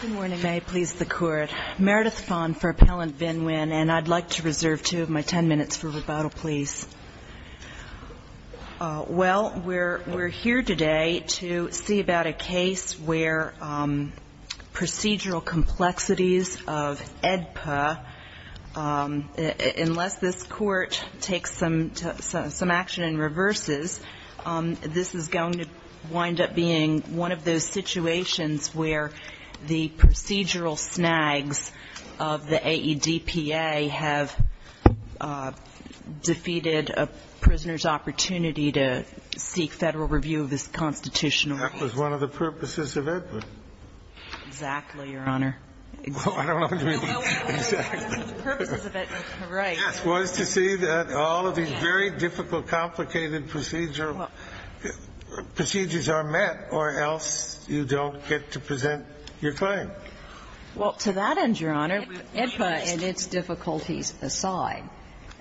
Good morning. May I please the Court? Meredith Phan for Appellant Vinh Nguyen and I'd like to reserve two of my ten minutes for rebuttal, please. Well, we're here today to see about a case where procedural complexities of AEDPA, unless this Court takes some action in reverses, this is going to wind up being one of those situations where the procedural snags of the AEDPA have defeated a prisoner's opportunity to seek Federal review of his constitutional rights. That was one of the purposes of it. Exactly, Your Honor. Well, I don't understand. The purpose of it was correct. The purpose of it was to make sure that the procedures are met or else you don't get to present your claim. Well, to that end, Your Honor, AEDPA and its difficulties aside,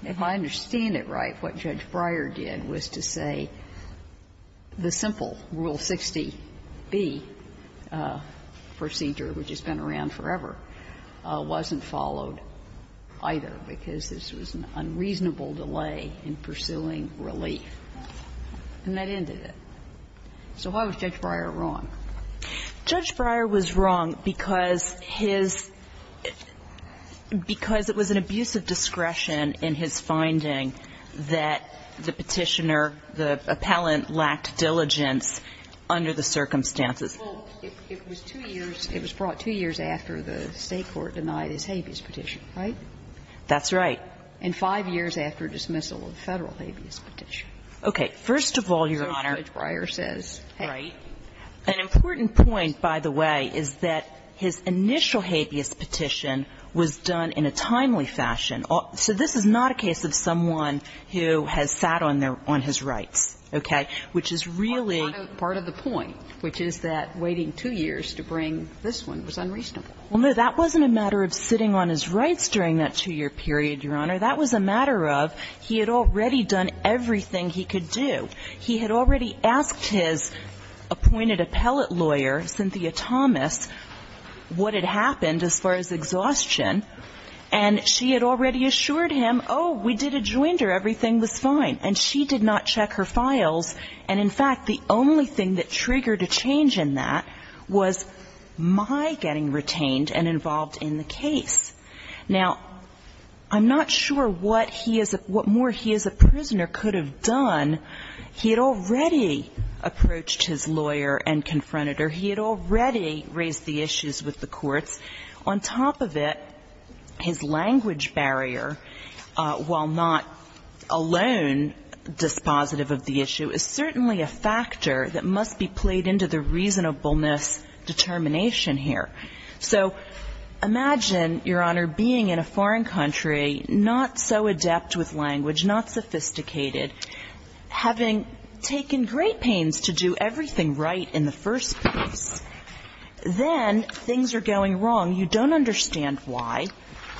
if I understand it right, what Judge Breyer did was to say the simple Rule 60B procedure, which has been around forever, wasn't followed either because this was an unreasonable delay in pursuing relief. And that ended it. So why was Judge Breyer wrong? Judge Breyer was wrong because his ‑‑ because it was an abuse of discretion in his finding that the Petitioner, the Appellant, lacked diligence under the circumstances. Well, it was two years. It was brought two years after the State court denied his habeas petition, right? That's right. And five years after dismissal of the Federal habeas petition. Okay. First of all, Your Honor ‑‑ So Judge Breyer says, hey. An important point, by the way, is that his initial habeas petition was done in a timely fashion. So this is not a case of someone who has sat on their ‑‑ on his rights, okay? Which is really ‑‑ Part of the point, which is that waiting two years to bring this one was unreasonable. Well, no, that wasn't a matter of sitting on his rights during that two‑year period, Your Honor. That was a matter of he had already done everything he could do. He had already asked his appointed appellate lawyer, Cynthia Thomas, what had happened as far as exhaustion. And she had already assured him, oh, we did a joinder, everything was fine. And she did not check her files. And, in fact, the only thing that triggered a change in that was my getting retained and involved in the case. Now, I'm not sure what he is ‑‑ what more he as a prisoner could have done. He had already approached his lawyer and confronted her. He had already raised the issues with the courts. On top of it, his language barrier, while not alone dispositive of the issue, is certainly a factor that must be played into the reasonableness determination here. So imagine, Your Honor, being in a foreign country, not so adept with language, not sophisticated, having taken great pains to do everything right in the first place. Then things are going wrong. You don't understand why.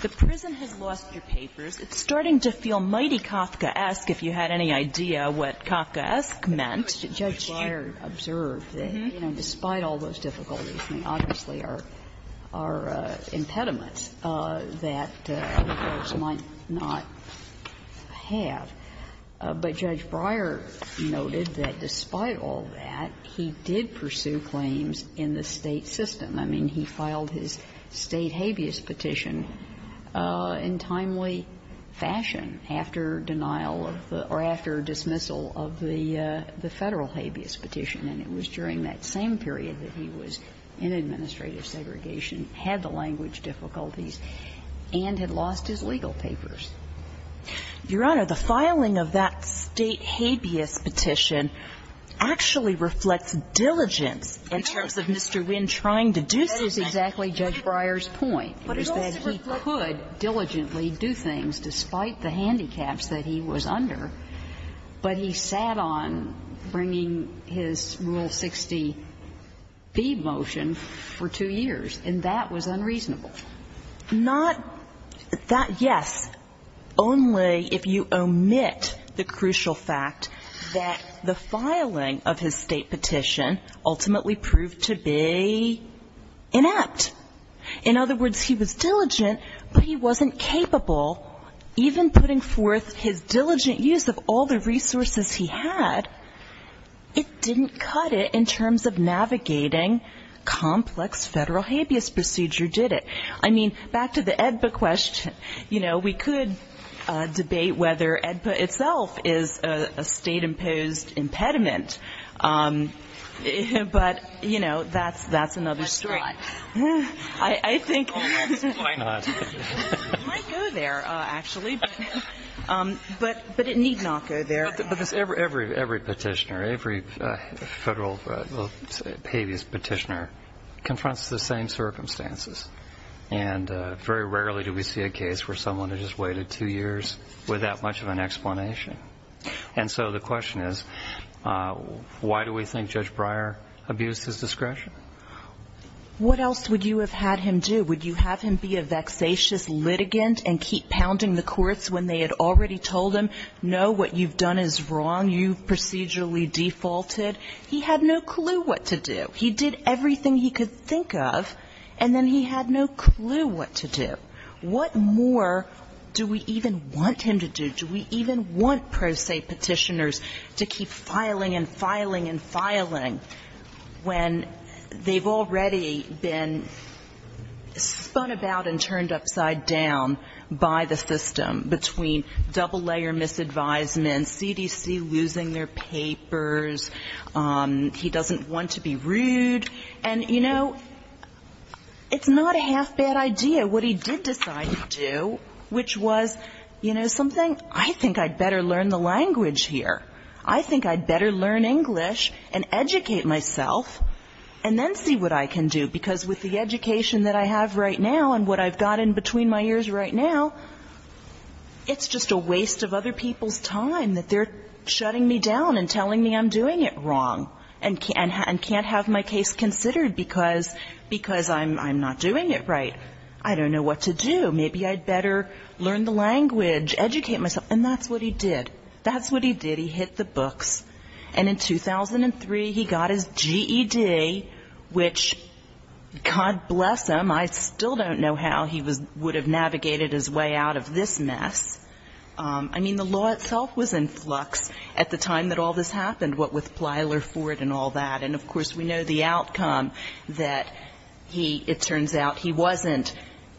The prison has lost your papers. It's starting to feel mighty Kafkaesque, if you had any idea what Kafkaesque meant. Judge Breyer observed that, you know, despite all those difficulties, there obviously are impediments that the courts might not have. But Judge Breyer noted that despite all that, he did pursue claims in the State system. I mean, he filed his State habeas petition in timely fashion after denial of the ‑‑ or after dismissal of the Federal habeas petition. And it was during that same period that he was in administrative segregation, had the language difficulties, and had lost his legal papers. Your Honor, the filing of that State habeas petition actually reflects diligence in terms of Mr. Wynn trying to do something. That is exactly Judge Breyer's point, is that he could diligently do things despite the handicaps that he was under, but he sat on bringing his Rule 60B motion for two years, and that was unreasonable. Not that, yes, only if you omit the crucial fact that the filing of his State petition ultimately proved to be inept. In other words, he was diligent, but he wasn't capable even putting forth his diligent use of all the resources he had. It didn't cut it in terms of navigating complex Federal habeas procedure, did it? I mean, back to the AEDPA question. You know, we could debate whether AEDPA itself is a State‑imposed impediment, but, you know, that's another story. Why not? It might go there, actually, but it need not go there. But every petitioner, every Federal habeas petitioner, confronts the same circumstances, and very rarely do we see a case where someone has just waited two years without much of an explanation. And so the question is, why do we think Judge Breyer abused his discretion? What else would you have had him do? Would you have him be a vexatious litigant and keep pounding the courts when they had already told him, no, what you've done is wrong, you've procedurally defaulted? He had no clue what to do. He did everything he could think of, and then he had no clue what to do. What more do we even want him to do? Do we even want pro se petitioners to keep filing and filing and filing when they've already been spun about and turned upside down by the system between double layer misadvisements, CDC losing their papers, he doesn't want to be rude? And, you know, it's not a half bad idea. What he did decide to do, which was, you know, something, I think I'd better learn the language here. I think I'd better learn English and educate myself, and then see what I can do, because with the education that I have right now and what I've got in between my ears right now, it's just a waste of other people's time that they're shutting me down and telling me I'm doing it wrong and can't have my case considered because I'm not doing it right. I don't know what to do. Maybe I'd better learn the language, educate myself. And that's what he did. That's what he did. He hit the books. And in 2003, he got his GED, which, God bless him, I still don't know how he would have navigated his way out of this mess. I mean, the law itself was in flux at the time that all this happened, what with Plyler Ford and all that. And, of course, we know the outcome, that he, it turns out, he wasn't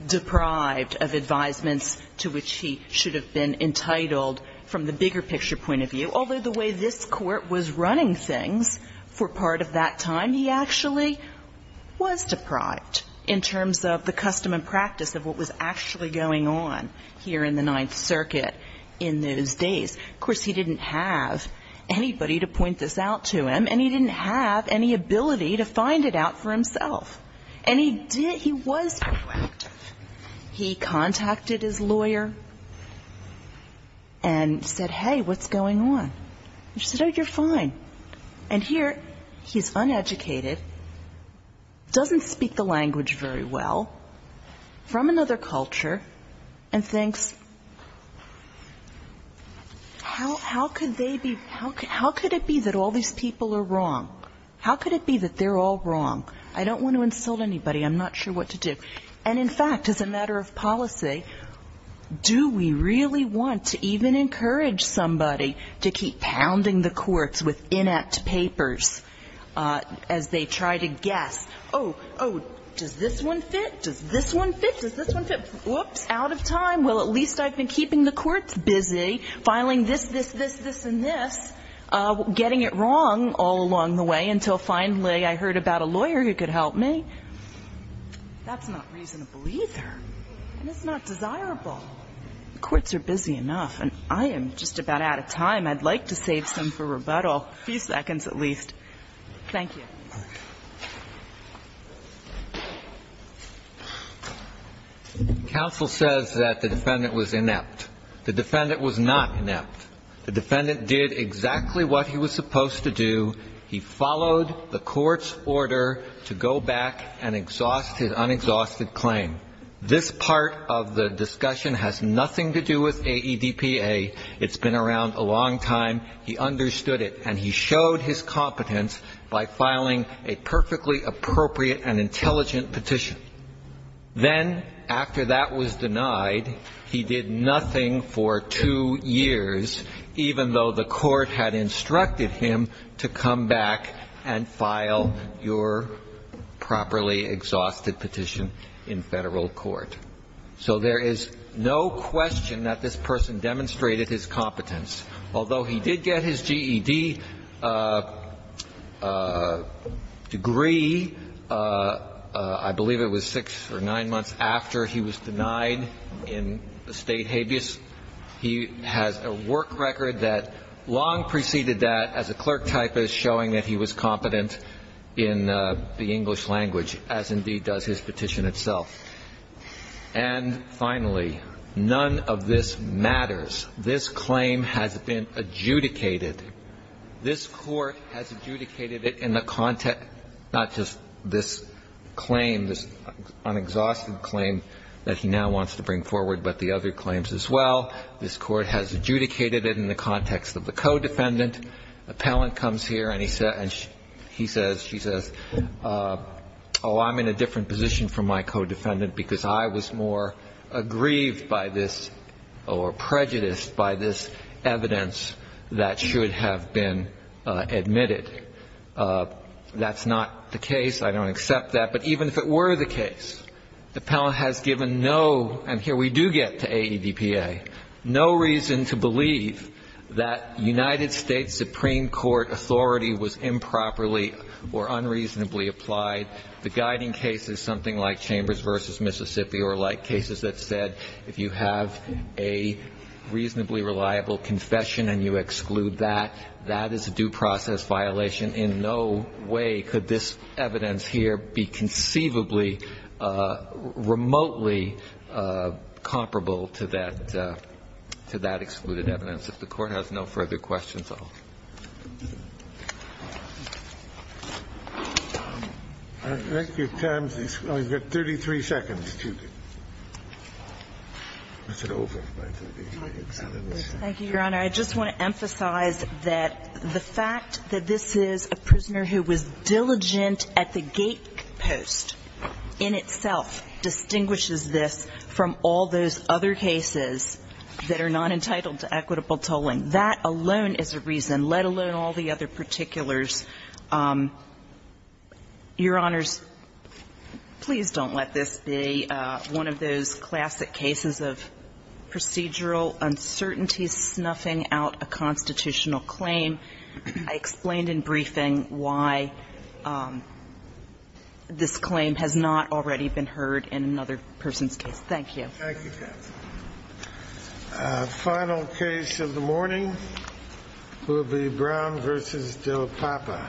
deprived of advisements to which he should have been entitled from the bigger picture point of view. Although the way this Court was running things for part of that time, he actually was deprived in terms of the custom and practice of what was actually going on here in the Ninth Circuit in those days. Of course, he didn't have anybody to point this out to him, and he didn't have any ability to find it out for himself. And he did, he was proactive. He contacted his lawyer and said, hey, what's going on? And she said, oh, you're fine. And here he's uneducated, doesn't speak the language very well, from another culture, and thinks how could they be, how could it be that all these people are wrong? How could it be that they're all wrong? I don't want to insult anybody, I'm not sure what to do. And, in fact, as a matter of policy, do we really want to even encourage somebody to keep pounding the courts with inept papers as they try to guess, oh, oh, does this one fit, does this one fit, does this one fit? Whoops, out of time. Well, at least I've been keeping the courts busy filing this, this, this, this, and this, getting it wrong all along the way, until finally I heard about a lawyer who could help me. That's not reasonable either, and it's not desirable. The courts are busy enough, and I am just about out of time. I'd like to save some for rebuttal, a few seconds at least. Thank you. Breyer. Counsel says that the defendant was inept. The defendant was not inept. The defendant did exactly what he was supposed to do. He followed the court's order to go back and exhaust his unexhausted claim. This part of the discussion has nothing to do with AEDPA. It's been around a long time. He understood it, and he showed his competence by filing a perfectly appropriate and intelligent petition. Then, after that was denied, he did nothing for two years, even though the court had instructed him to come back and file your properly exhausted petition in federal court. So there is no question that this person demonstrated his competence. Although he did get his GED degree, I believe it was six or nine months after he was denied in the State habeas, he has a work record that long preceded that as a clerk typist showing that he was competent in the English language, as indeed does his petition itself. And finally, none of this matters. This claim has been adjudicated. This Court has adjudicated it in the context, not just this claim, this unexhausted claim that he now wants to bring forward, but the other claims as well. This Court has adjudicated it in the context of the co-defendant. Appellant comes here, and he says, she says, oh, I'm in a different position from my co-defendant because I was more aggrieved by this or prejudiced by this evidence that should have been admitted. That's not the case. I don't accept that. But even if it were the case, Appellant has given no, and here we do get to AEDPA, no reason to believe that United States Supreme Court authority was improperly or unreasonably applied. The guiding case is something like Chambers v. Mississippi or like cases that said if you have a reasonably reliable confession and you exclude that, that is a due process violation. In no way could this evidence here be conceivably remotely comparable to that, to that excluded evidence. If the Court has no further questions, I'll close. Thank you. We've got 33 seconds. Is it over? Thank you, Your Honor. I just want to emphasize that the fact that this is a prisoner who was diligent at the gate post in itself distinguishes this from all those other cases that are not entitled to equitable tolling. That alone is a reason, let alone all the other particulars. Your Honors, please don't let this be one of those classic cases of procedural uncertainty snuffing out a constitutional claim. I explained in briefing why this claim has not already been heard in another person's case. Thank you. Thank you, counsel. Final case of the morning will be Brown v. Del Papa.